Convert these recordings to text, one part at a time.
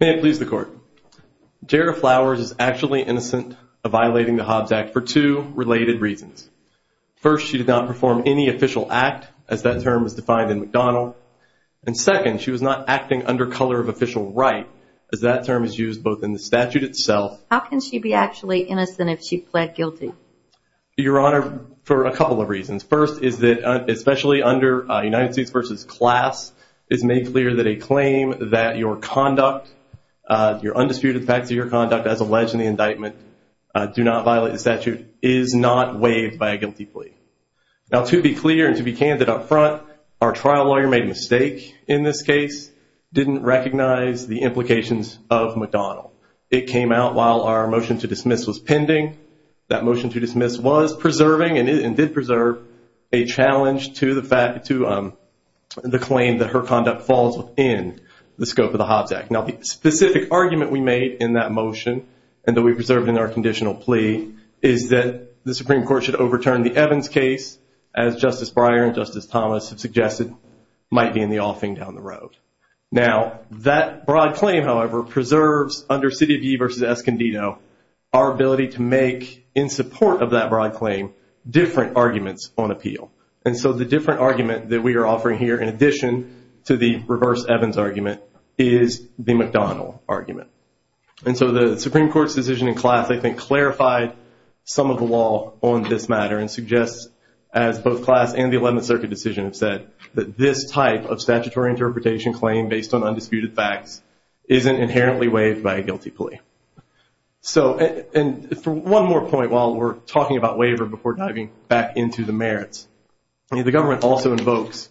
May it please the court, Jara Flowers is actually innocent of violating the Hobbs Act for two related reasons. First, she did not perform any official act, as that term is defined in McDonald. And second, she was not acting under color of official right, as that term is used both in the statute itself. How can she be actually innocent if she pled guilty? Your Honor, for a couple of reasons. First, is that especially under United States v. Class, it's made clear that a claim that your conduct, your undisputed facts of your conduct as alleged in the indictment, do not violate the statute, is not waived by a guilty plea. Now to be clear and to be candid up front, our trial lawyer made a mistake in this case, didn't recognize the motion to dismiss was preserving and did preserve a challenge to the fact to the claim that her conduct falls within the scope of the Hobbs Act. Now the specific argument we made in that motion and that we preserved in our conditional plea is that the Supreme Court should overturn the Evans case as Justice Breyer and Justice Thomas have suggested might be in the offing down the road. Now that broad claim, however, preserves under City of Yee v. Escondido, our ability to make in support of that broad claim, different arguments on appeal. And so the different argument that we are offering here in addition to the reverse Evans argument is the McDonnell argument. And so the Supreme Court's decision in class, I think, clarified some of the law on this matter and suggests, as both class and the 11th Circuit decision have said, that this type of statutory interpretation claim based on undisputed facts isn't inherently waived by a guilty plea. So and for one more point while we're talking about waiver before diving back into the merits, the government also invokes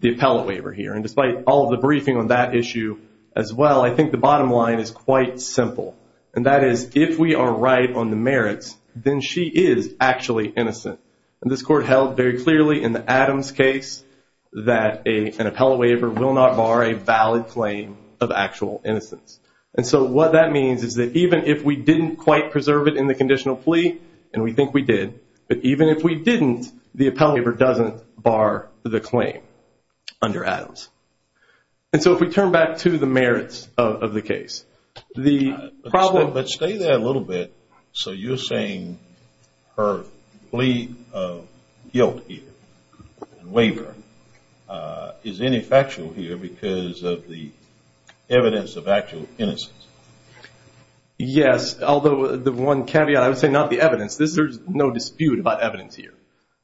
the appellate waiver here. And despite all the briefing on that issue as well, I think the bottom line is quite simple. And that is if we are right on the merits, then she is actually innocent. And this court held very clearly in the Adams case that an appellate waiver will not bar a valid claim of actual innocence. And so what that means is that even if we didn't quite preserve it in the conditional plea, and we think we did, but even if we didn't, the appellate waiver doesn't bar the claim under Adams. And so if we turn back to the merits of the case, the problem... But stay there a little bit. So you're saying her plea of guilt here and waiver is ineffectual here because of the evidence of innocence? Yes. Although the one caveat, I would say not the evidence. There's no dispute about evidence here.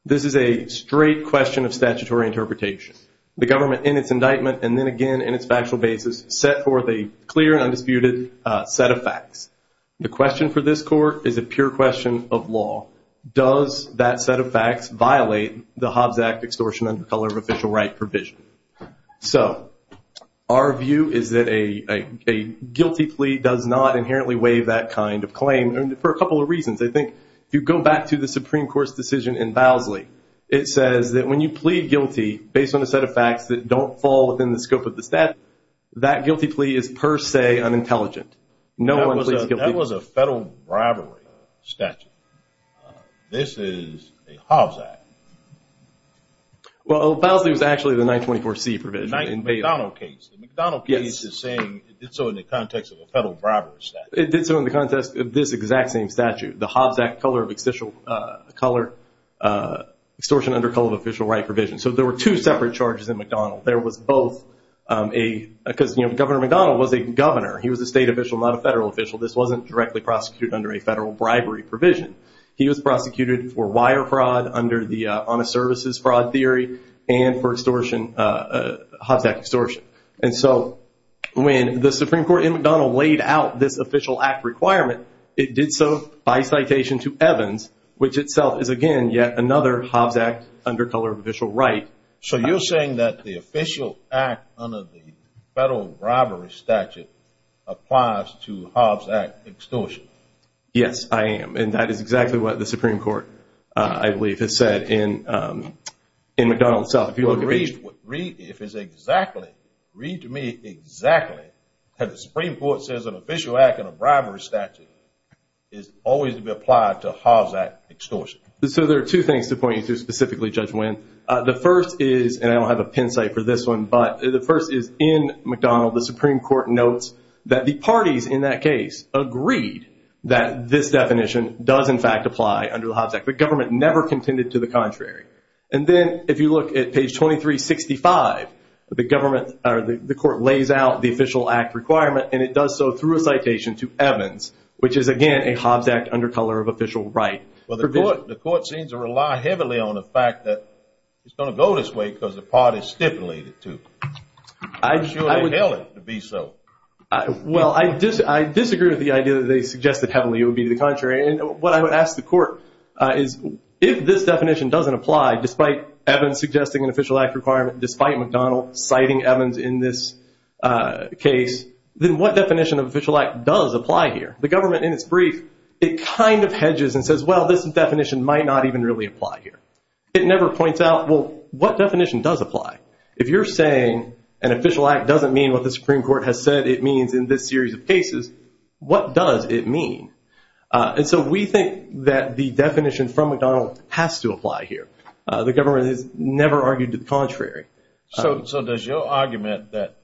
This is a straight question of statutory interpretation. The government, in its indictment, and then again in its factual basis, set forth a clear and undisputed set of facts. The question for this court is a pure question of law. Does that set of facts violate the Hobbs Act extortion under color of official right provision? So our view is that a guilty plea does not inherently waive that kind of claim, and for a couple of reasons. I think if you go back to the Supreme Court's decision in Bowsley, it says that when you plead guilty based on a set of facts that don't fall within the scope of the statute, that guilty plea is per se unintelligent. No one pleads guilty. That was a federal bribery statute. This is a Hobbs Act. Well, Bowsley was actually the 924C provision. The McDonald case is saying it did so in the context of a federal bribery statute. It did so in the context of this exact same statute, the Hobbs Act color of extortion under color of official right provision. So there were two He was a state official, not a federal official. This wasn't directly prosecuted under a federal bribery provision. He was prosecuted for wire fraud under the honest services fraud theory and for extortion, Hobbs Act extortion. And so when the Supreme Court in McDonald laid out this official act requirement, it did so by citation to Evans, which itself is, again, yet another Hobbs Act under color of official right. So you're saying that the official act under the federal bribery statute applies to Hobbs Act extortion? Yes, I am. And that is exactly what the Supreme Court, I believe, has said in McDonald itself. If you look at page... Read, if it's exactly, read to me exactly that the Supreme Court says an official act in a bribery statute is always to be applied to Hobbs Act extortion. So there are two things to point you to specifically, Judge Wynn. The first is, and I don't have a pin site for this one, but the first is in McDonald, the Supreme Court notes that the parties in that case agreed that this definition does, in fact, apply under the Hobbs Act. The government never contended to the contrary. And then if you look at page 2365, the government or the court lays out the official act requirement and it does so through a citation to Evans, which is, again, a Hobbs Act under color of official right. Well, the court seems to rely heavily on the fact that it's going to go this way because the party stipulated to. I'm sure they held it to be so. Well, I disagree with the idea that they suggested heavily it would be the contrary. And what I would ask the court is if this definition doesn't apply, despite Evans suggesting an official act requirement, despite McDonald citing Evans in this case, then what definition of official act does apply here? The government, in its brief, it kind of hedges and says, well, this definition might not even really apply here. It never points out, well, what definition does apply? If you're saying an official act doesn't mean what the Supreme Court has said it means in this series of cases, what does it mean? And so we think that the definition from McDonald has to apply here. The government has never argued to the contrary. So does your argument that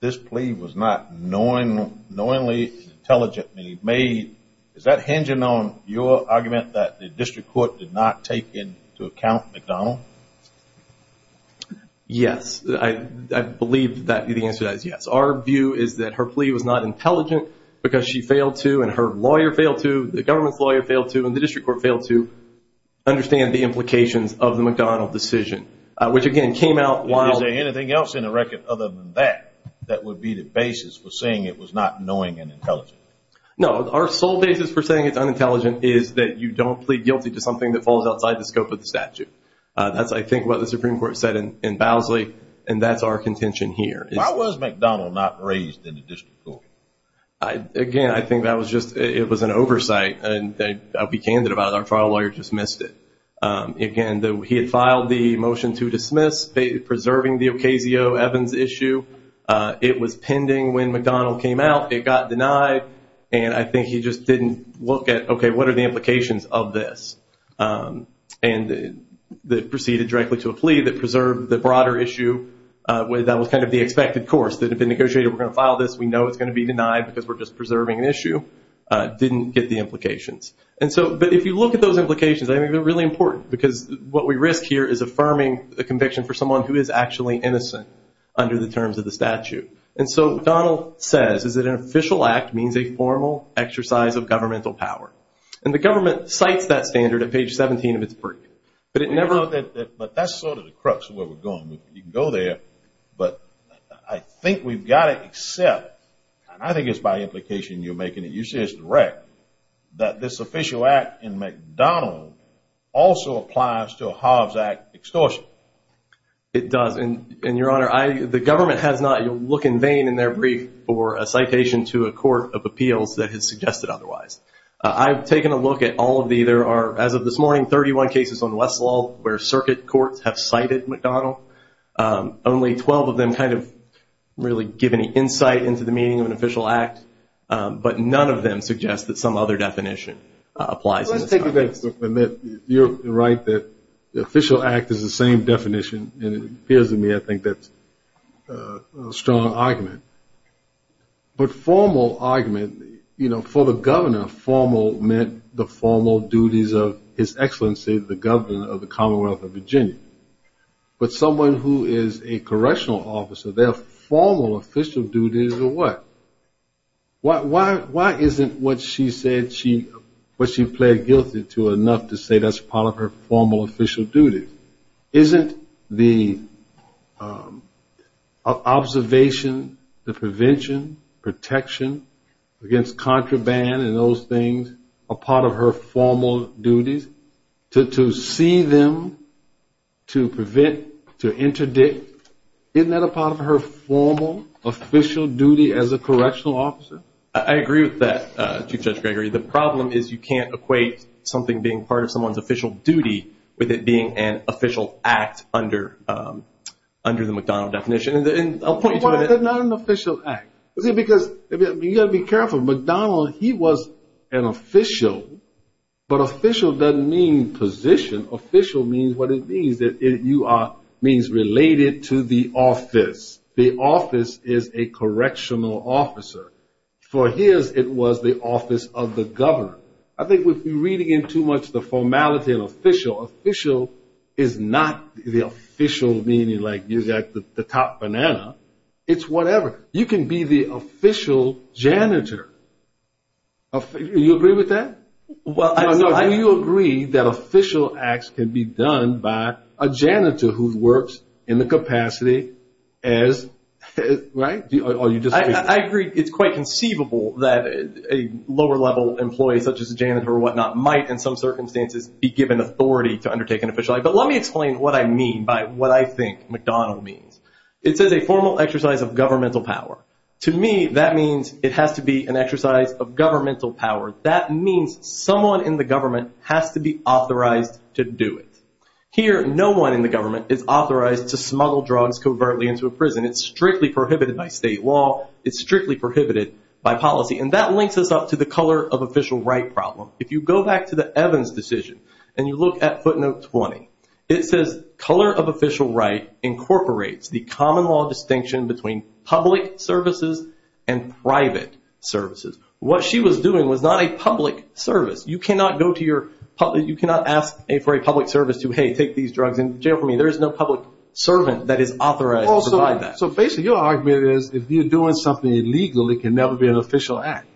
this plea was not knowingly, intelligently made, is that hinging on your argument that the district court did not take into account McDonald? Yes, I believe that the answer is yes. Our view is that her plea was not intelligent because she failed to, and her lawyer failed to, the government's lawyer failed to, and the district court failed to understand the implications of the McDonald decision, which again came out while... Is there anything else in the record other than that, that would be the basis for saying it was not knowing and intelligent? No, our sole basis for saying it's unintelligent is that you don't plead guilty to something that falls outside the scope of the statute. That's, I think, what the Supreme Court said in Bowsley, and that's our contention here. Why was McDonald not raised in the district court? Again, I think that was just, it was an oversight, and I'll be candid about it, our trial lawyer dismissed it. Again, he had filed the motion to dismiss, preserving the Ocasio-Evans issue. It was pending when McDonald came out. It got denied, and I think he just didn't look at, okay, what are the implications of this? And they proceeded directly to a plea that preserved the broader issue, that was kind of the expected course, that had been negotiated, we're going to file this, we know it's going to be denied because we're just preserving an issue, didn't get the implications. And so, but if you look at those implications, I think they're really important because what we risk here is affirming a conviction for someone who is actually innocent under the terms of the statute. And so, Donald says, is that an official act means a formal exercise of governmental power. And the government cites that standard at page 17 of its brief, but it never... But that's sort of the crux of where we're going. You can go there, but I think we've got to accept, and I think it's by implication you're making it, you say it's direct, that this official act in regards to a Hobbs Act extortion. It does. And your honor, the government has not, you'll look in vain in their brief for a citation to a court of appeals that has suggested otherwise. I've taken a look at all of the, there are, as of this morning, 31 cases on Westlaw where circuit courts have cited McDonnell. Only 12 of them kind of really give any insight into the meaning of an official act, but none of them suggest that some other definition applies. Let's take a official act as the same definition, and it appears to me I think that's a strong argument. But formal argument, you know, for the governor, formal meant the formal duties of his excellency, the governor of the Commonwealth of Virginia. But someone who is a correctional officer, their formal official duties are what? Why isn't what she said, what she pled guilty to enough to say that's part of her formal official duties? Isn't the observation, the prevention, protection against contraband and those things a part of her formal duties? To see them, to prevent, to interdict, isn't that a part of her formal official duty as a correctional officer? I agree with that, Chief Judge Gregory. The problem is you can't equate something being part of someone's official duty with it being an official act under the McDonnell definition. Why is it not an official act? Because you got to be careful. McDonnell, he was an official, but official doesn't mean position. Official means what it means, that you are, means related to the office. The office is a correctional officer. For his, it was the formality of official. Official is not the official meaning like you got the top banana. It's whatever. You can be the official janitor. Do you agree with that? Well, I know. Do you agree that official acts can be done by a janitor who works in the capacity as, right? I agree. It's quite conceivable that a lower level employee such as a janitor or whatnot might in some circumstances be given authority to undertake an official act. But let me explain what I mean by what I think McDonnell means. It says a formal exercise of governmental power. To me, that means it has to be an exercise of governmental power. That means someone in the government has to be authorized to do it. Here, no one in the government is authorized to smuggle drugs covertly into a prison. It's strictly prohibited by state law. It's strictly prohibited by policy. And that links us up to the color of official right problem. If you go back to the Evans decision and you look at footnote 20, it says color of official right incorporates the common law distinction between public services and private services. What she was doing was not a public service. You cannot go to your public, you cannot ask for a public service to, hey, take these drugs into jail for me. There is no public servant that is authorized to provide that. So basically your argument is, if you're doing something illegally, it can never be an official act.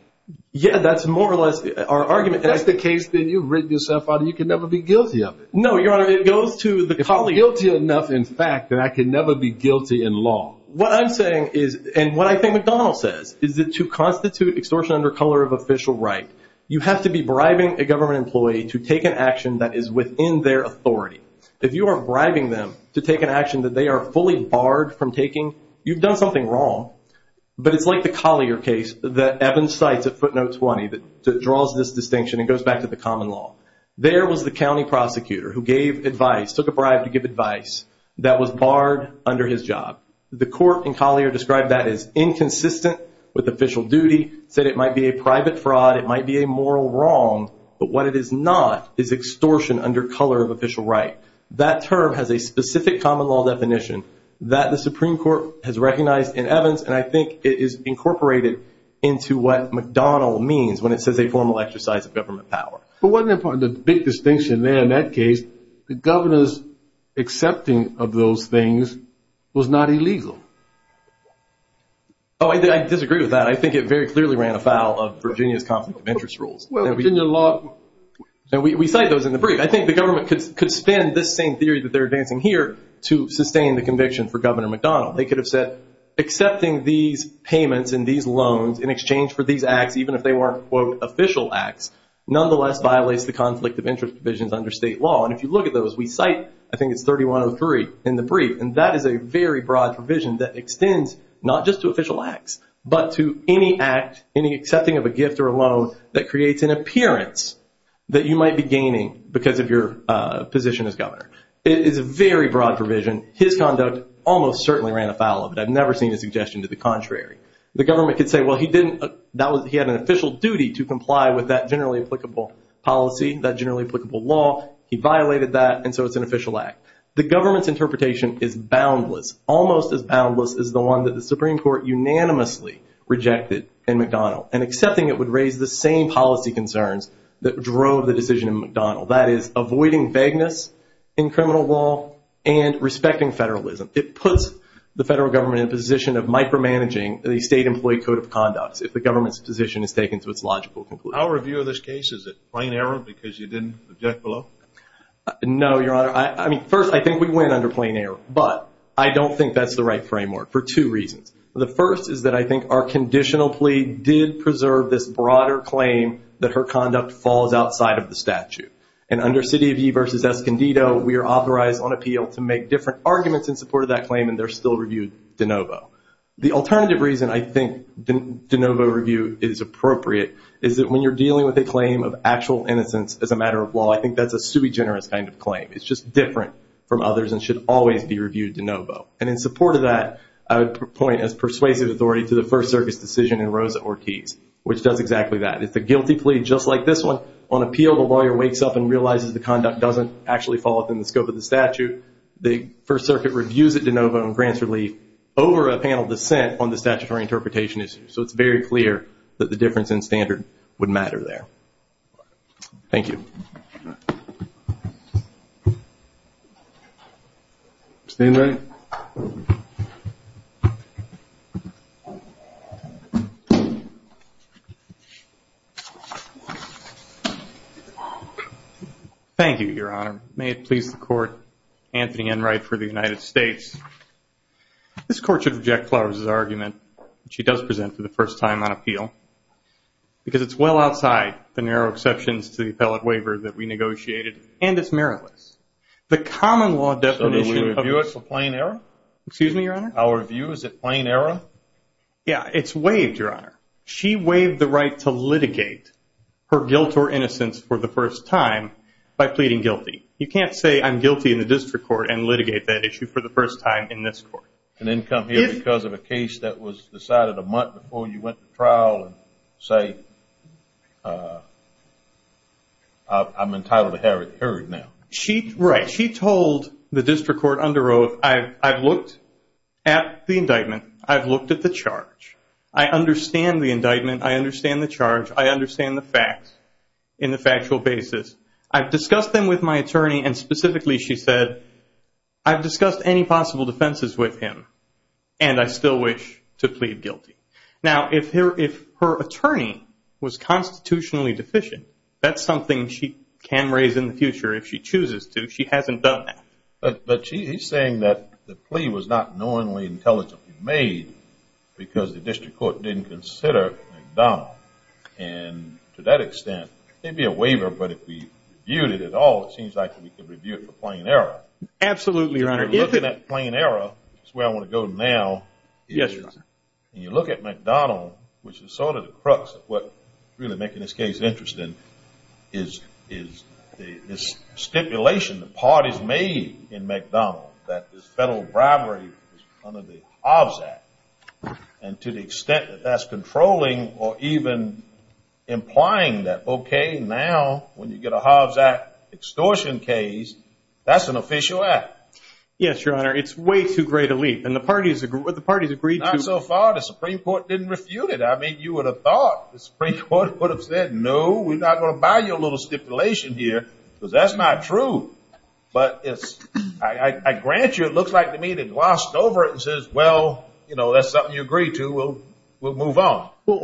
Yeah, that's more or less our argument. If that's the case, then you've written yourself out and you can never be guilty of it. No, your honor, it goes to the colleague. If I'm guilty enough in fact, then I can never be guilty in law. What I'm saying is, and what I think McDonnell says, is that to constitute extortion under color of official right, you have to be bribing a government employee to take an action that is within their authority. If you are bribing them to take an action that they are fully barred from taking, you've done something wrong. But it's like the Collier case that Evans cites at footnote 20 that draws this distinction and goes back to the common law. There was the county prosecutor who gave advice, took a bribe to give advice, that was barred under his job. The court in Collier described that as inconsistent with official duty, said it might be a private fraud, it might be a moral wrong, but what it is not is extortion under color of official right. That term has a specific common law definition that the Supreme Court has recognized in Evans, and I think it is incorporated into what McDonnell means when it says a formal exercise of government power. But one important, the big distinction there in that case, the governor's accepting of those things was not illegal. Oh, I disagree with that. I think it very clearly ran afoul of Virginia's conflict of interest provisions. We cite those in the brief. I think the government could spin this same theory that they're advancing here to sustain the conviction for Governor McDonnell. They could have said, accepting these payments and these loans in exchange for these acts, even if they weren't quote official acts, nonetheless violates the conflict of interest provisions under state law. And if you look at those, we cite, I think it's 3103 in the brief, and that is a very broad provision that extends not just to official acts, but to any act, any accepting of a gift or a loan that creates an appearance that you might be gaining because of your position as governor. It is a very broad provision. His conduct almost certainly ran afoul of it. I've never seen a suggestion to the contrary. The government could say, well, he had an official duty to comply with that generally applicable policy, that generally applicable law. He violated that, and so it's an official act. The government's interpretation is boundless, almost as boundless as the one that the same policy concerns that drove the decision in McDonnell. That is avoiding vagueness in criminal law and respecting federalism. It puts the federal government in a position of micromanaging the state employee code of conducts if the government's position is taken to its logical conclusion. Our review of this case, is it plain error because you didn't object below? No, Your Honor. I mean, first, I think we went under plain error, but I don't think that's the right framework for two reasons. The first is that I think our conditional plea did preserve this broader claim that her conduct falls outside of the statute. And under City of Yee versus Escondido, we are authorized on appeal to make different arguments in support of that claim, and they're still reviewed de novo. The alternative reason I think de novo review is appropriate, is that when you're dealing with a claim of actual innocence as a matter of law, I think that's a sui generis kind of claim. It's just different from others and should always be reviewed de novo. And in support of that, I would point as persuasive authority to the First does exactly that. It's a guilty plea just like this one. On appeal, the lawyer wakes up and realizes the conduct doesn't actually fall within the scope of the statute. The First Circuit reviews it de novo and grants relief over a panel dissent on the statutory interpretation issue. So it's very clear that the difference in standard would matter there. Thank you. Mr. Enright. Thank you, Your Honor. May it please the Court, Anthony Enright for the United States. This Court should reject Flowers' argument that she does present for the first time on appeal because it's well outside the narrow exceptions to the appellate waiver that we negotiated, and it's meritless. The common law definition... So do we review it for plain error? Excuse me, Your Honor? Our review, is it plain error? Yeah, it's waived, Your Honor. She waived the right to litigate her guilt or innocence for the first time by pleading guilty. You can't say I'm guilty in the district court and litigate that issue for the first time in this court. And then come here because of a case that was decided a month before you went to trial and say I'm entitled to have it heard now. Right. She told the district court under oath, I've looked at the indictment. I've looked at the charge. I understand the indictment. I understand the charge. I understand the facts in the factual basis. I've discussed them with my attorney, and specifically she said, I've discussed any possible defenses with him, and I still wish to plead guilty. Now, if her attorney was constitutionally deficient, that's something she can raise in the future if she chooses to. She hasn't done that. But she's saying that the plea was not knowingly intelligently made because the district court didn't consider McDonald. And to that extent, it'd be a waiver, but if we reviewed it at all, it seems like we could review it for plain error. Absolutely, your honor. Looking at plain error, that's where I want to go now. You look at McDonald, which is sort of the crux of what's really making this case interesting, is this stipulation the parties made in McDonald that this federal bribery is under the Hobbs Act. And to the extent that that's controlling or even implying that, okay, now when you get a Hobbs Act extortion case, that's an official act. Yes, your honor. It's way too great a leap, and the parties agreed to. Not so far. The Supreme Court didn't refute it. I mean, you would have thought the Supreme Court would have said, no, we're not going to buy your little stipulation here, because that's not true. But I grant you, it looks like the media glossed over it and says, well, that's something you agreed to. We'll move on. Well,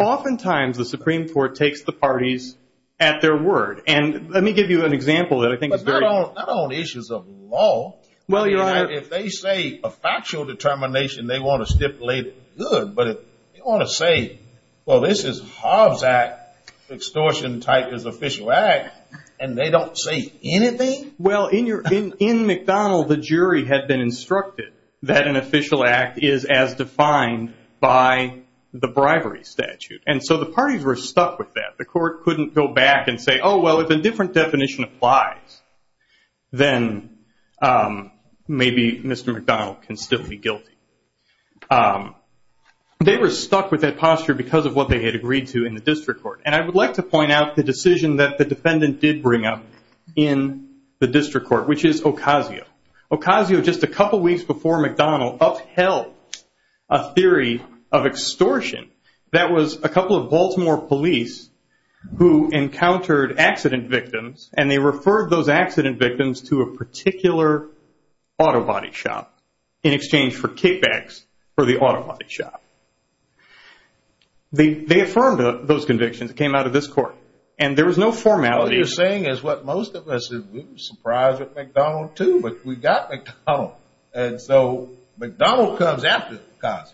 oftentimes the Supreme Court takes the parties at their word. And let me give you an example that I think is very- Not on issues of law. Well, your honor. If they say a factual determination, they want to stipulate good, but if they want to say, well, this is Hobbs Act extortion type is official act, and they don't say anything? Well, in McDonald, the jury had been instructed that an official act is as defined by the bribery statute. And so the parties were stuck with that. The court couldn't go back and say, oh, well, if a different definition applies, then maybe Mr. McDonald can still be guilty. They were stuck with that posture because of what they had agreed to in the district court. And I would like to point out the decision that the defendant did bring up in the district court, which is Ocasio. Ocasio, just a couple weeks before McDonald, upheld a theory of extortion that was a couple of Baltimore police who encountered accident victims, and they referred those accident victims to a particular auto body shop in exchange for kickbacks for the auto body shop. They affirmed those convictions. It came out of this court. And there was no formality. What you're saying is what most of us would be surprised with McDonald too, but we got McDonald. And so McDonald comes after Ocasio.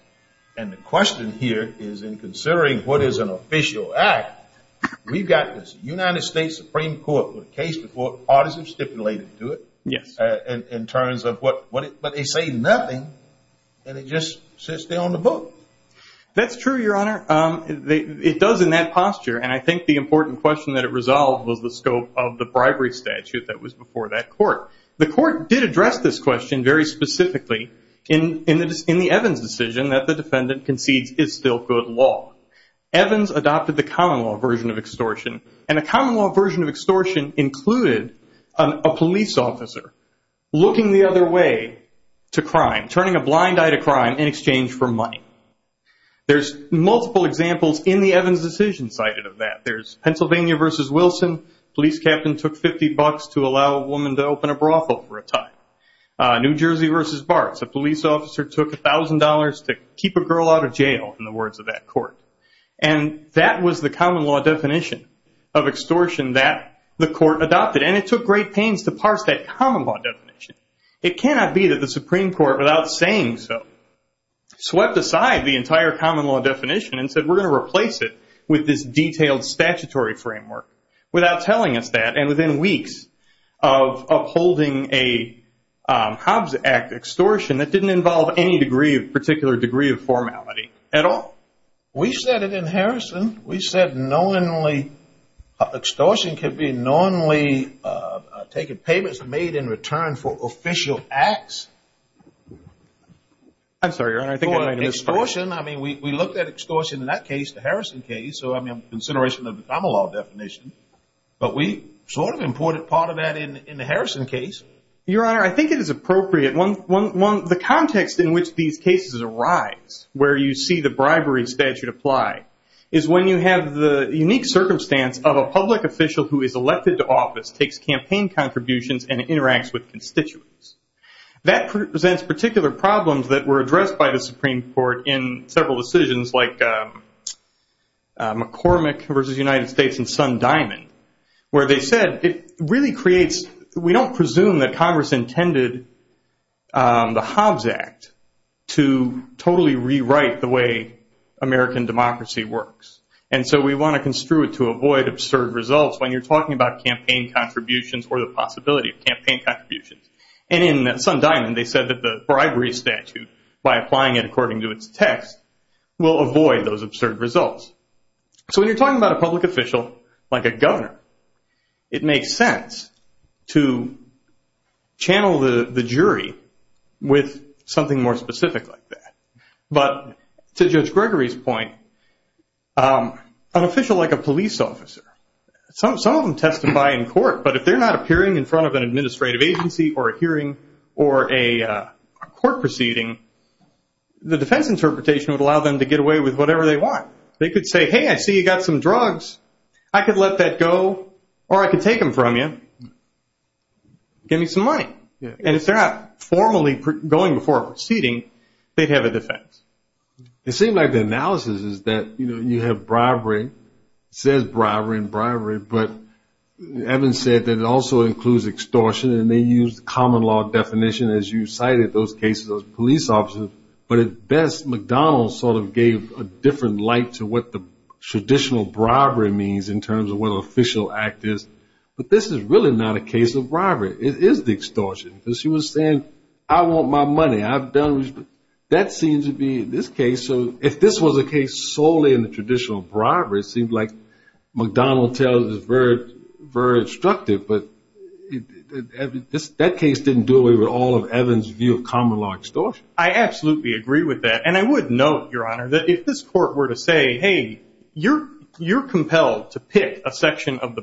And the question here is in considering what is an official act, we've got this United States Supreme Court case before parties have stipulated to it in terms of what they say nothing, and it just sits there on the book. That's true, Your Honor. It does in that posture. And I think the important question that it resolved was the scope of the bribery statute that was before that court. The court did address this question very specifically in the Evans decision that the defendant concedes is still good law. Evans adopted the common law version of extortion. And the common law version of extortion included a police officer looking the other way to crime, turning a blind eye to crime in exchange for money. There's multiple examples in the Evans decision cited of that. There's Pennsylvania versus Wilson, police captain took 50 bucks to allow a woman to open a brothel for a time. New Jersey versus Barts, a police officer took $1,000 to keep a girl out of jail in the words of that court. And that was the common law definition of extortion that the court adopted. And it took great pains to parse that common law definition. It cannot be that the Supreme Court without saying so swept aside the entire common law definition and said we're going to replace it with this detailed statutory framework. Without telling us that and within weeks of upholding a Hobbs Act extortion that didn't involve any degree of particular degree of formality at all. We said it in Harrison. We said knowingly extortion can be knowingly taking payments made in return for official acts. I'm sorry, Your Honor, I think I missed. Extortion, I mean, we looked at extortion in that case, the Harrison case, so I mean consideration of the common law definition. But we sort of imported part of that in the Harrison case. Your Honor, I think it is appropriate. The context in which these cases arise, where you see the bribery statute apply, is when you have the unique circumstance of a public official who is elected to office, takes campaign contributions, and interacts with constituents. That presents particular problems that were addressed by the Supreme Court in several decisions like McCormick versus United States and Son Diamond, where they said it really creates, we don't presume that Congress intended the Hobbs Act to totally rewrite the way American democracy works. And so we want to construe it to avoid absurd results when you're talking about campaign contributions or the possibility of campaign contributions. And in Son Diamond, they said that the bribery statute, by applying it according to its text, will avoid those absurd results. So when you're talking about a public official like a governor, it makes sense to channel the jury with something more specific like that. But to Judge Gregory's point, an official like a police officer, some of them testify in court, but if they're not appearing in front of an administrative agency or a hearing or a court proceeding, the defense interpretation would allow them to get away with whatever they want. They could say, hey, I see you got some drugs. I could let that go, or I could take them from you. Give me some money. And if they're not formally going before a proceeding, they'd have a defense. It seems like the analysis is that you have bribery. It says bribery and bribery, but Evans said that it also includes extortion, and they used the common law definition, as you cited, those cases of police officers. But at best, McDonald's sort of gave a different light to what the traditional bribery means in terms of what an official act is. But this is really not a case of bribery. It is extortion. Because she was saying, I want my money. That seems to be this case. So if this was a case solely in the traditional bribery, it seemed like McDonald's is very instructive. But that case didn't do away with all of Evans' view of common law extortion. I absolutely agree with that. And I would note, Your Honor, that if this court were to say, hey, you're compelled to pick a section of the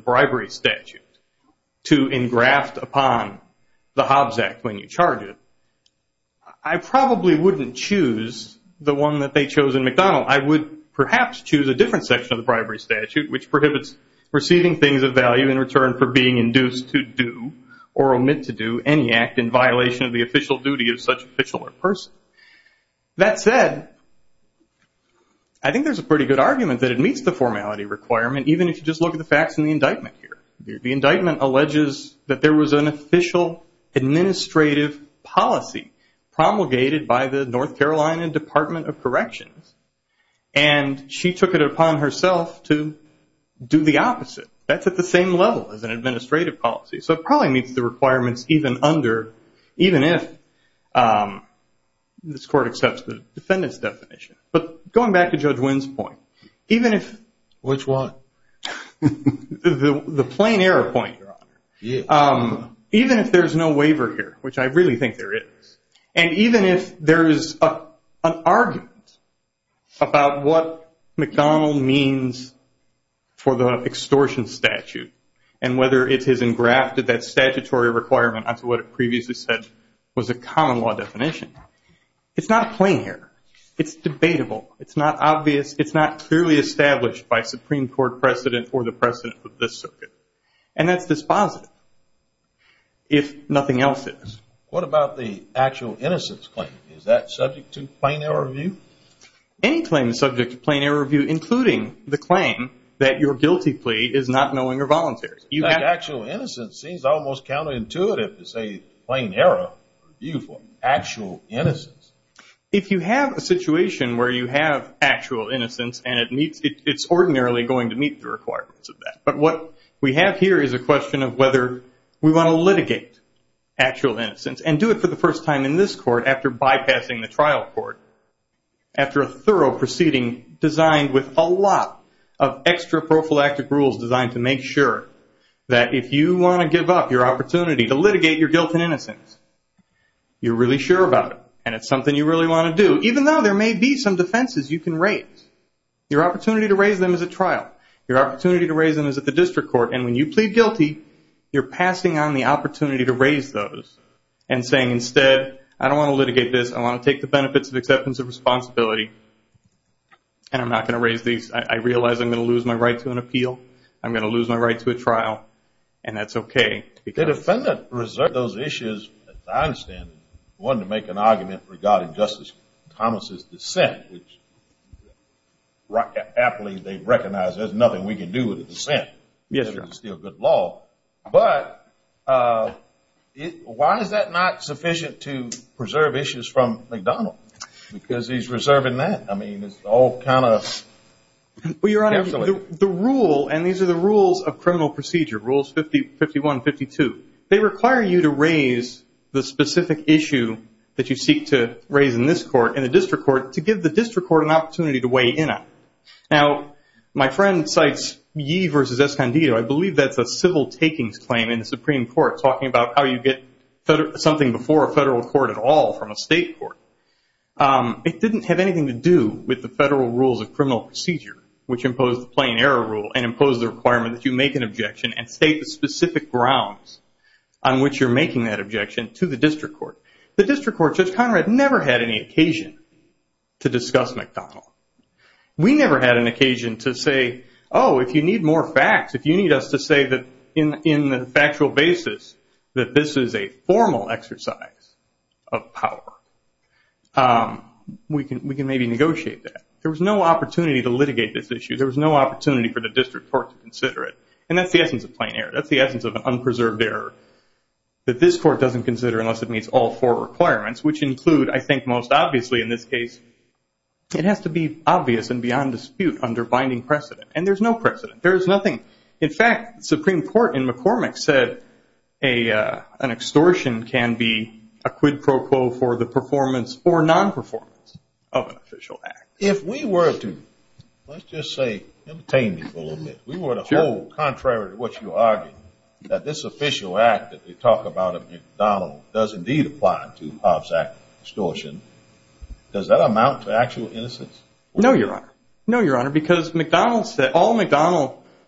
charge, I probably wouldn't choose the one that they chose in McDonald's. I would perhaps choose a different section of the bribery statute, which prohibits receiving things of value in return for being induced to do or omit to do any act in violation of the official duty of such official or person. That said, I think there's a pretty good argument that it meets the formality requirement, even if you just look at the facts in the indictment here. The indictment alleges that there was an official administrative policy promulgated by the North Carolina Department of Corrections. And she took it upon herself to do the opposite. That's at the same level as an administrative policy. So it probably meets the requirements even if this court accepts the defendant's definition. But going back to Judge Wynn's point, even if- Which one? The plain error point, Your Honor. Even if there's no waiver here, which I really think there is, and even if there is an argument about what McDonald means for the extortion statute, and whether it has engrafted that statutory requirement onto what it previously said was a common law definition, it's not a plain error. It's debatable. It's not obvious. It's not clearly established by Supreme Court precedent or the precedent of this circuit. And that's dispositive, if nothing else is. What about the actual innocence claim? Is that subject to plain error review? Any claim is subject to plain error review, including the claim that your guilty plea is not knowing or voluntary. That actual innocence seems almost counterintuitive to say plain error review for actual innocence. If you have a situation where you have actual innocence and it's ordinarily going to meet the requirements of that. But what we have here is a question of whether we want to litigate actual innocence and do it for the first time in this court after bypassing the trial court, after a thorough proceeding designed with a lot of extra prophylactic rules designed to make sure that if you want to give up your opportunity to litigate your guilt and innocence, you're really sure about it. And it's something you really want to do, even though there may be some defenses you can raise. Your opportunity to raise them is a trial. Your opportunity to raise them is at the district court. And when you plead guilty, you're passing on the opportunity to raise those and saying instead, I don't want to litigate this. I want to take the benefits of acceptance of responsibility. And I'm not going to raise these. I realize I'm going to lose my right to an appeal. I'm going to lose my right to a trial. And that's okay. The defendant reserved those issues, as I understand it. He wanted to make an argument regarding Justice Thomas' dissent, which aptly they recognize there's nothing we can do with a dissent. Yes, sir. It's still good law. But why is that not sufficient to preserve issues from McDonald? Because he's reserving that. I mean, it's all kind of... Well, Your Honor, the rule, and these are the rules of criminal procedure, Rules 51 and 52. They require you to raise the specific issue that you seek to raise in this court, in the district court, to give the district court an opportunity to weigh in on. Now, my friend cites Yee v. Escondido. I believe that's a civil takings claim in the Supreme Court, talking about how you get something before a federal court at all from a state court. It didn't have anything to do with the federal rules of criminal procedure, which impose the plain error rule and impose the requirement that you make an objection and state the specific grounds on which you're making that objection to the district court. The district court, Judge Conrad never had any occasion to discuss McDonald. We never had an occasion to say, oh, if you need more facts, if you need us to say that in the factual basis that this is a formal exercise of power, we can maybe negotiate that. There was no opportunity to litigate this issue. There was no opportunity for the district court to consider it. And that's the essence of plain error. That's the essence of an unpreserved error that this court doesn't consider unless it meets all four requirements, which include, I think most obviously in this case, it has to be obvious and beyond dispute under binding precedent. And there's no precedent. There is nothing... In fact, the Supreme Court in McCormick said an extortion can be a quid pro quo for the performance or non-performance of an official act. If we were to, let's just say, entertain me for a little bit, we were to hold, contrary to what you argued, that this official act that they talk about at McDonald does indeed apply to Hobbs Act extortion. Does that amount to actual innocence? No, Your Honor. No, a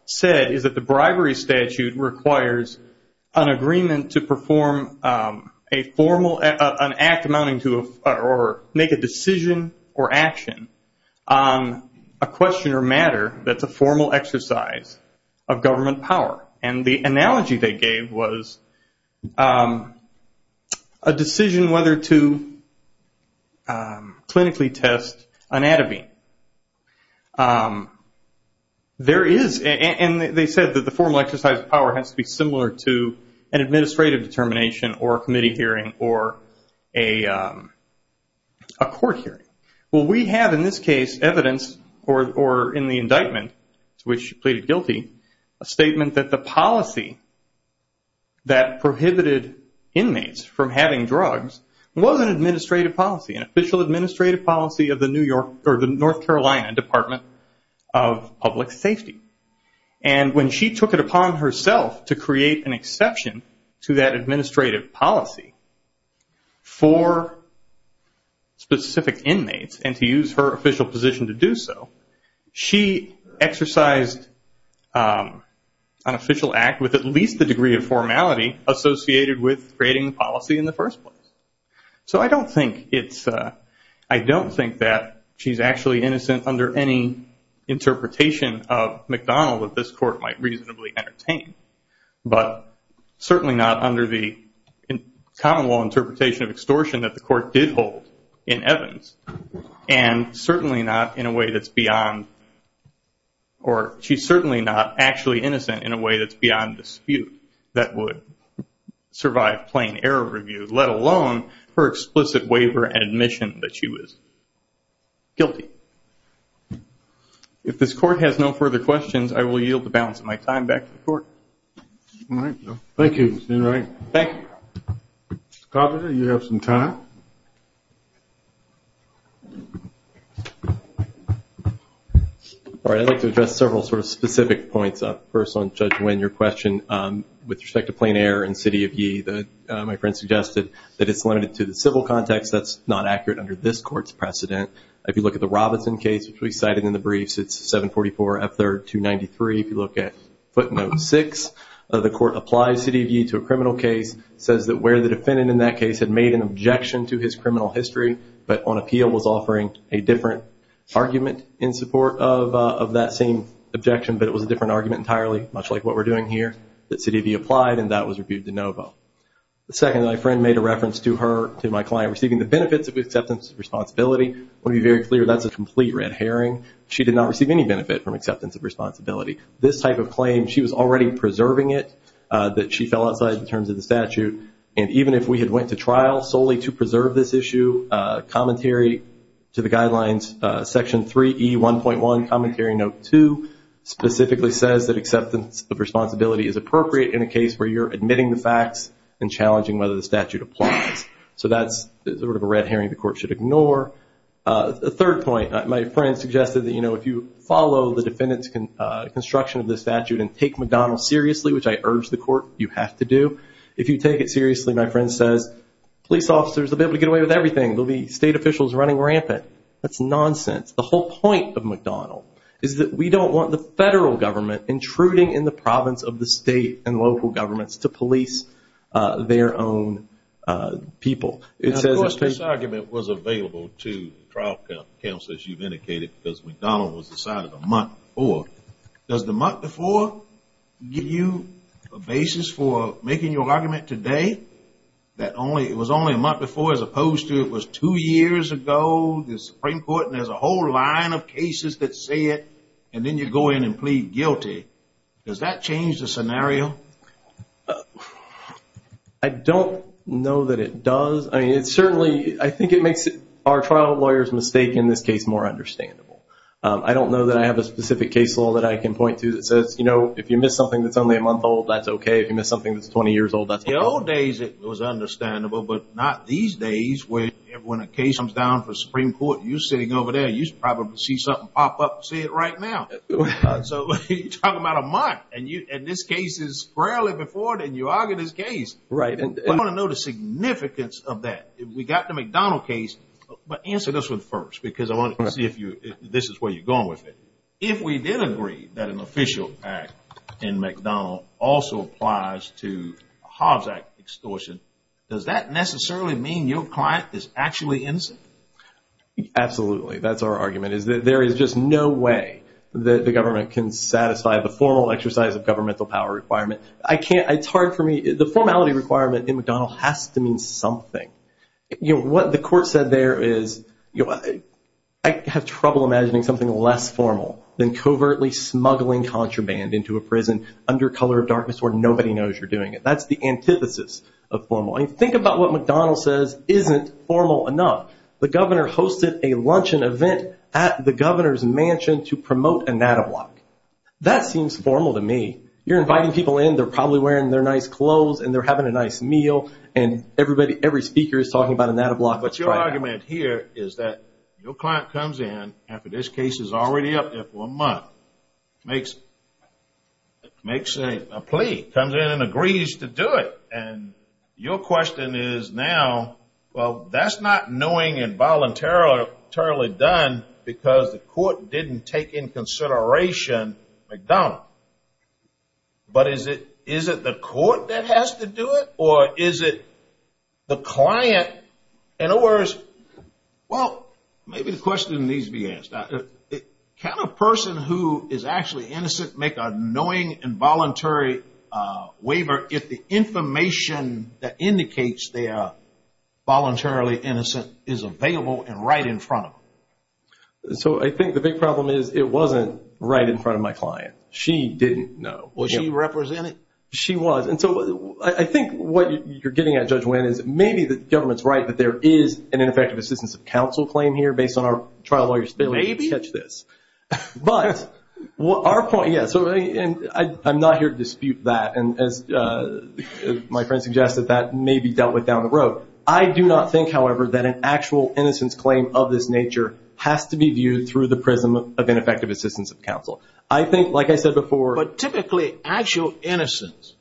statutory statute requires an agreement to perform a formal, an act amounting to, or make a decision or action on a question or matter that's a formal exercise of government power. And the analogy they exercise power has to be similar to an administrative determination or a committee hearing or a court hearing. Well, we have in this case evidence, or in the indictment to which she pleaded guilty, a statement that the policy that prohibited inmates from having drugs was an administrative policy, an official administrative policy of the North Carolina Department of Public Safety. And when she took it upon herself to create an exception to that administrative policy for specific inmates and to use her official position to do so, she exercised an official act with at least the degree of formality associated with creating the policy in the first place. So I don't think it's, I don't think that she's actually innocent under any interpretation of McDonald that this court might reasonably entertain. But certainly not under the common law interpretation of extortion that the court did hold in Evans. And certainly not in a way that's beyond, or she's certainly not actually innocent in a way that's beyond dispute that would survive plain error review, let alone her explicit waiver and admission that she was guilty. If this court has no further questions, I will yield the balance of my time back to the court. All right. Thank you, Mr. Enright. Thank you. Mr. Coppola, you have some time. All right, I'd like to address several sort of specific points. First on Judge Wynn, your question with respect to my friend suggested that it's limited to the civil context. That's not accurate under this court's precedent. If you look at the Robinson case, which we cited in the briefs, it's 744 F3rd 293. If you look at footnote 6, the court applies C.D.V. to a criminal case, says that where the defendant in that case had made an objection to his criminal history, but on appeal was offering a different argument in support of that same objection, but it was a different argument than what we're doing here, that C.D.V. applied and that was reviewed de novo. Second, my friend made a reference to her, to my client, receiving the benefits of acceptance of responsibility. I want to be very clear, that's a complete red herring. She did not receive any benefit from acceptance of responsibility. This type of claim, she was already preserving it, that she fell outside the terms of the statute, and even if we had went to trial solely to preserve this issue, commentary to the guidelines, section 3E1.1, commentary note 2, specifically says that acceptance of responsibility is appropriate in a case where you're admitting the facts and challenging whether the statute applies. So that's sort of a red herring the court should ignore. The third point, my friend suggested that if you follow the defendant's construction of the statute and take McDonnell seriously, which I urge the court you have to do, if you take it seriously, my friend says, police officers will be able to get away with everything. There will be state officials running rampant. That's nonsense. The whole point of McDonnell is that we don't want the federal government intruding in the province of the state and local governments to police their own people. Of course, this argument was available to trial counsel, as you've indicated, because McDonnell was decided a month before. Does the month before give you a basis for making your argument today that it was only a month before as opposed to it was two years ago, the Supreme Court, and there's a whole line of cases that say it, and then you go in and plead guilty? Does that change the scenario? I don't know that it does. I mean, it certainly, I think it makes our trial lawyers' mistake in this case more understandable. I don't know that I have a specific case law that I can point to that says, you know, if you miss something that's only a month old, that's okay. If you miss something that's 20 years old, that's okay. In the old days, it was understandable, but not these days where when a case comes down for the Supreme Court, you're sitting over there, you probably see something pop up and say it right now. So you're talking about a month, and this case is rarely before, and you argue this case. I want to know the significance of that. We got the McDonnell case, but answer this one first, because I want to see if this is where you're going with it. If we did agree that an official act in McDonnell also applies to a Hobbs Act extortion, does that necessarily mean your client is actually innocent? Absolutely. That's our argument, is that there is just no way that the government can satisfy the formal exercise of governmental power requirement. I can't, it's hard for me, the formality requirement in McDonnell has to mean something. What the court said there is, I have trouble imagining something less formal than covertly smuggling contraband into a prison under color of darkness where nobody knows you're doing it. That's the antithesis of formal. Think about what McDonnell says isn't formal enough. The governor hosted a luncheon event at the governor's mansion to promote a NADA block. That seems formal to me. You're inviting people in, they're probably wearing their nice clothes and they're having a nice meal, and every speaker is talking about a NADA block. But your argument here is that your client comes in after this case is already up there for a month, makes a plea, comes in and agrees to do it. And your question is now, well that's not knowing and voluntarily done because the court didn't take in consideration McDonnell. But is it the court that has to do it or is it the client? In other words, well maybe the question needs to be asked. Can a person who is actually innocent make a knowing and voluntary waiver if the information that indicates they are voluntarily innocent is available and right in front of them? So I think the big problem is it wasn't right in front of my client. She didn't know. Was she represented? She was. And so I think what you're getting at, Judge Winn, is maybe the government's right that there is an ineffective assistance of counsel claim here based on our trial lawyer's statement. Maybe. But our point, yes, and I'm not here to dispute that. And as my friend suggested, that may be dealt with down the road. I do not think, however, that an actual innocence claim of this nature has to be viewed through the prism of ineffective assistance of counsel. I think, like I said before, but typically actual innocence,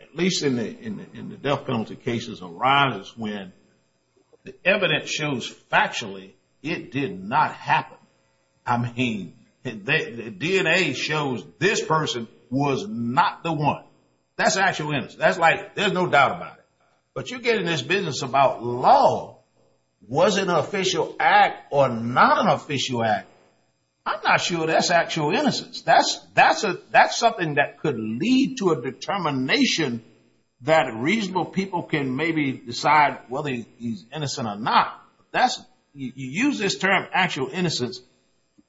at least in the death penalty cases, arises when the evidence shows factually it did not happen. I mean, the DNA shows this person was not the one. That's actual innocence. There's no doubt about it. But you're getting this business about law. Was it an official act or not an official act? I'm not sure that's actual innocence. That's something that could lead to a determination that reasonable people can maybe decide whether he's innocent or not. That's, you use this term actual innocence,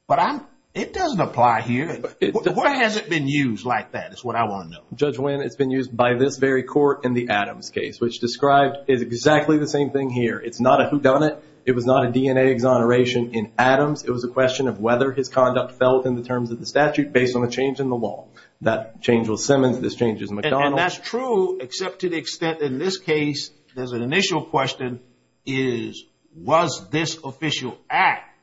but it doesn't apply here. Where has it been used like that is what I want to know. Judge Wynn, it's been used by this very court in the Adams case, which described is exactly the same thing here. It's not a whodunit. It was not a DNA exoneration in Adams. It was a question of whether his conduct felt in the terms of the statute based on the change in the law. That change was Simmons. This change is McDonnell. And that's true, except to the extent in this case, there's an initial question is, was this official act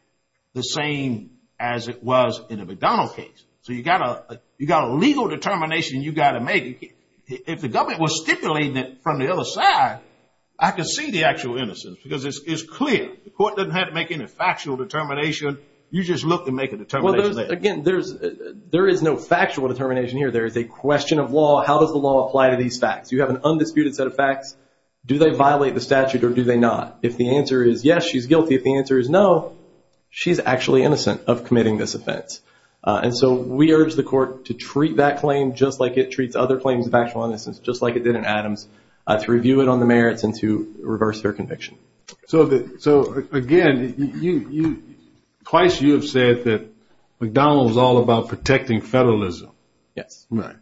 the same as it was in the McDonnell case? So you got a legal determination you got to make. If the government was stipulating it from the other side, I could see the actual innocence because it's clear. The court doesn't have to make any factual determination. You just look and make a determination. Again, there is no factual determination here. There is a question of law. How does the law apply to these facts? You have an undisputed set of facts. Do they violate the statute or do they not? If the answer is yes, she's guilty. If the answer is no, she's actually innocent of committing this offense. And so we urge the court to treat that claim just like it treats other claims of actual innocence, just like it did in Adams, to review it on the merits and to reverse their conviction. So again, twice you have said that McDonnell was all about protecting federalism. Yes. But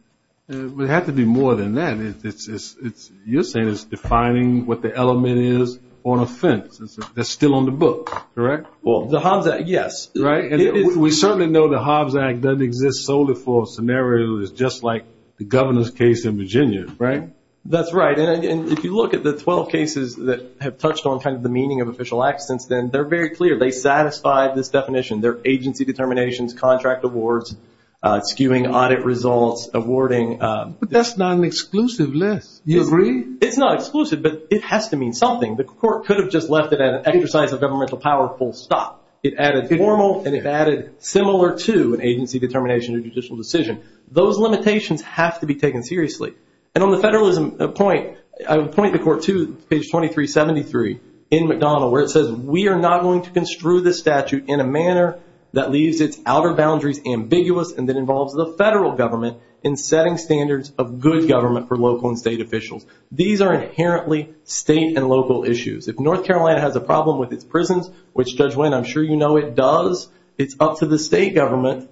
it had to be more than that. You're saying it's defining what the element is on offense. That's still on the book, correct? Well, the Hobbs Act, yes. We certainly know the Hobbs Act doesn't exist solely for a scenario that's just like the governor's case in Virginia, right? That's right. And if you look at the 12 cases that have touched on kind of the meaning of official accidents, then they're very clear. They satisfy this definition. They're agency determinations, contract awards, skewing audit results, awarding. But that's not an exclusive list. You agree? It's not exclusive, but it has to mean something. The court could have just left it at an exercise of governmental power full stop. It added formal and it added similar to an agency determination or judicial decision. Those limitations have to be taken seriously. And on the federalism point, I would point the court to page 2373 in McDonnell where it says, we are not going to construe this statute in a manner that leaves its outer boundaries ambiguous and that involves the federal government in setting standards of good government for local and state officials. These are inherently state and local issues. If North Carolina has a problem with its prisons, which Judge Wynn, I'm sure you know it does. It's up to the state government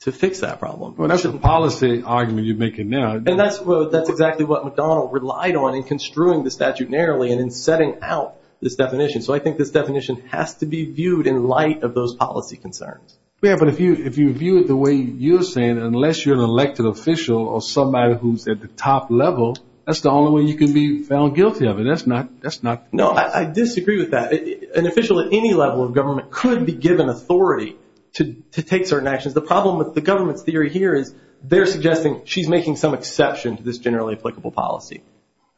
to fix that problem. Well, that's a policy argument you're making now. And that's exactly what McDonnell relied on in construing the statute narrowly and in setting out this definition. So I think this definition has to be viewed in light of those policy concerns. Yeah, but if you view it the way you're saying, unless you're an elected official or somebody who's at the top level, that's the only way you can be found guilty of it. That's not, that's not. No, I disagree with that. An official at any level of government could be given authority to take certain actions. The problem with the government's theory here is they're suggesting she's making some exception to this generally applicable policy.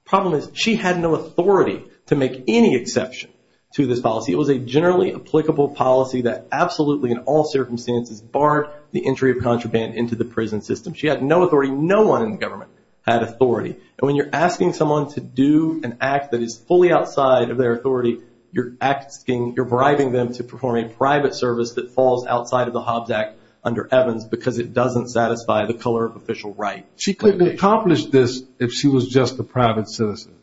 Problem is she had no authority to make any exception to this policy. It was a generally applicable policy that absolutely in all circumstances barred the entry of contraband into the prison system. She had no authority. No one in the government had authority. And when you're asking someone to do an act that is fully outside of their authority, you're asking, you're bribing them to perform a private service that falls outside of the Hobbs Act under Evans because it doesn't satisfy the color of official right. She couldn't have accomplished this if she was just a private citizen.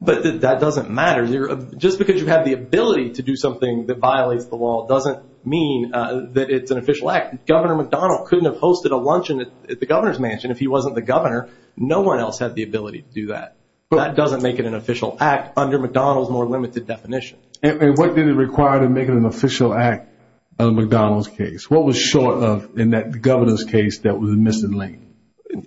But that doesn't matter. Just because you have the ability to do something that violates the law doesn't mean that it's an official act. Governor McDonnell couldn't have hosted a luncheon at the governor's mansion if he wasn't the governor. No one else had the ability to do that. But that doesn't make it an official act under McDonnell's more limited definition. And what did it require to make it an official act under McDonnell's case? What was short of in that governor's case that was missing link?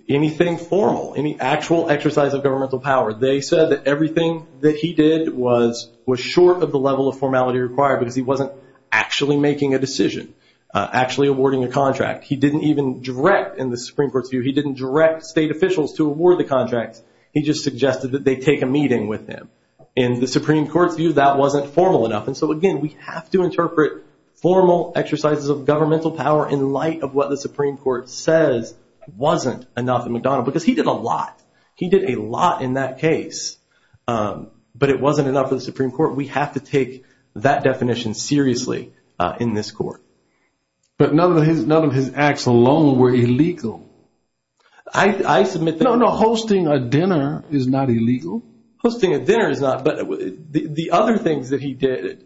Anything formal, any actual exercise of governmental power. They said that everything that he did was short of the level of formality required because he wasn't actually making a decision, actually awarding a contract. He didn't even direct in the Supreme Court's view. He didn't direct state officials to award the contracts. He just suggested that they take a meeting with him. In the Supreme Court's view, that wasn't formal enough. And so again, we have to interpret formal exercises of governmental power in light of what the Supreme Court says wasn't enough in McDonnell because he did a lot. He did a lot in that case. But it wasn't enough for the Supreme Court. We have to take that definition seriously in this court. But none of his acts alone were illegal. I submit that... No, no. Hosting a dinner is not illegal. Hosting a dinner is not. But the other things that he did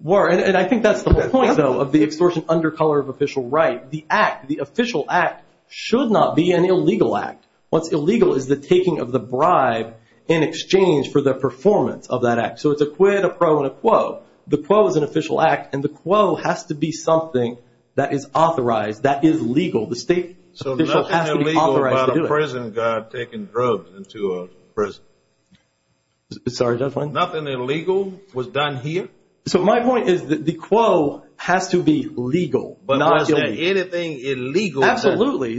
were... And I think that's the whole point, though, of the extortion under color of official right. The act, the official act should not be an illegal act. What's illegal is the taking of the bribe in exchange for the performance of that act. So it's a quid, a pro, and a quo. The quo is an official act. And the quo has to be something that is authorized, that is legal. The state official has to be authorized to do it. So nothing illegal about a prison guard taking drugs into a prison. Sorry, Judge Wendt. Nothing illegal was done here? So my point is that the quo has to be legal. But was there anything illegal? Absolutely.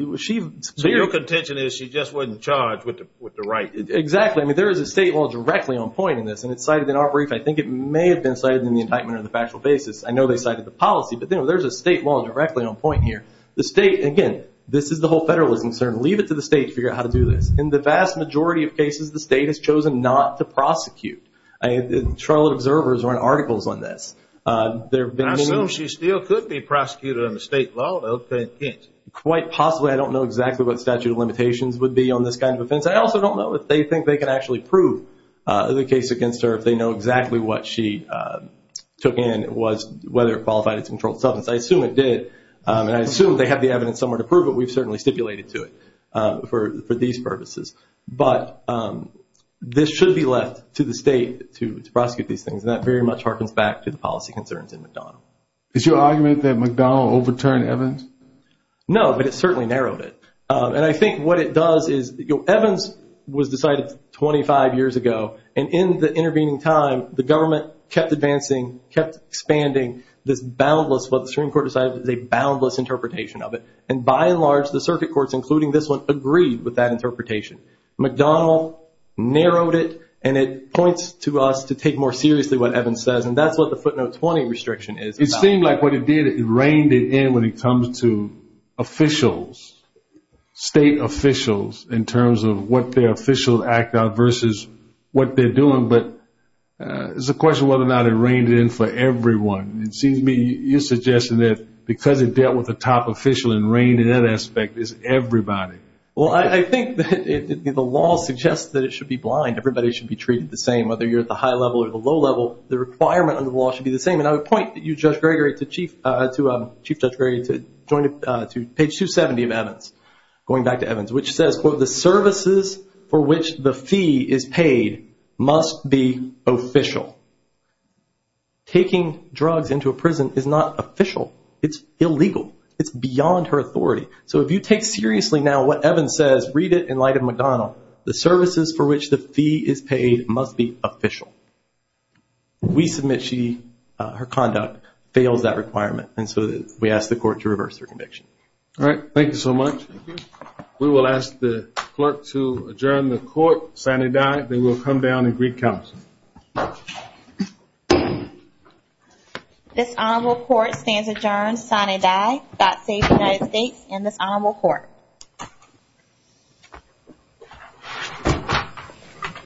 So your contention is she just wasn't charged with the right? Exactly. I mean, there is a state law directly on point in this. And it's cited in our brief. I think it may have been cited in the indictment on the factual basis. I know they cited the policy. But there's a state law directly on point here. The state, again, this is the whole federalist concern. Leave it to the state to figure out how to do this. In the vast majority of cases, the state has chosen not to prosecute. I mean, Charlotte Observer has run articles on this. There have been many... I assume she still could be prosecuted under state law, though, but can't. Quite possibly. I don't know exactly what statute of limitations would be on this kind of offense. I also don't know if they think they can actually prove the case against her if they know exactly what she took in was whether it qualified as a controlled substance. I assume it did. And I assume they have the evidence somewhere to prove it. We've certainly stipulated to it for these purposes. But this should be left to the state to prosecute these things. And that very much harkens back to the policy concerns in McDonald. Is your argument that McDonald overturned Evans? No, but it certainly narrowed it. And I think what it does is Evans was decided 25 years ago. And in the intervening time, the government kept advancing, kept expanding this boundless, what the Supreme Court decided was a boundless interpretation of it. And by and large, the circuit courts, including this one, agreed with that interpretation. McDonald narrowed it, and it points to us to take more seriously what Evans says. And that's what the footnote 20 restriction is about. It seemed like what it did, it reined it in when it comes to officials, state officials, in terms of what their official act are versus what they're doing. But it's a question whether or not it reined it in for everyone. It seems to me you're suggesting that because it dealt with the top official and reined in that aspect, it's everybody. Well, I think the law suggests that it should be blind. Everybody should be treated the same, whether you're at the high level or the low level. The requirement under the law should be the same. And I would point you, Judge Gregory, to Chief Judge Gregory, to page 270 of Evans, going back to Evans, which says, quote, the services for which the fee is paid must be official. Taking drugs into a prison is not official. It's illegal. It's beyond her authority. So if you take seriously now what Evans says, read it in light of McDonald, the services for which the fee is paid must be official. We submit she, her conduct fails that requirement. And so we ask the court to reverse her conviction. All right. Thank you so much. We will ask the clerk to adjourn the court. Sine die. They will come down and greet counsel. This honorable court stands adjourned. Sine die. God save the United States and this honorable court.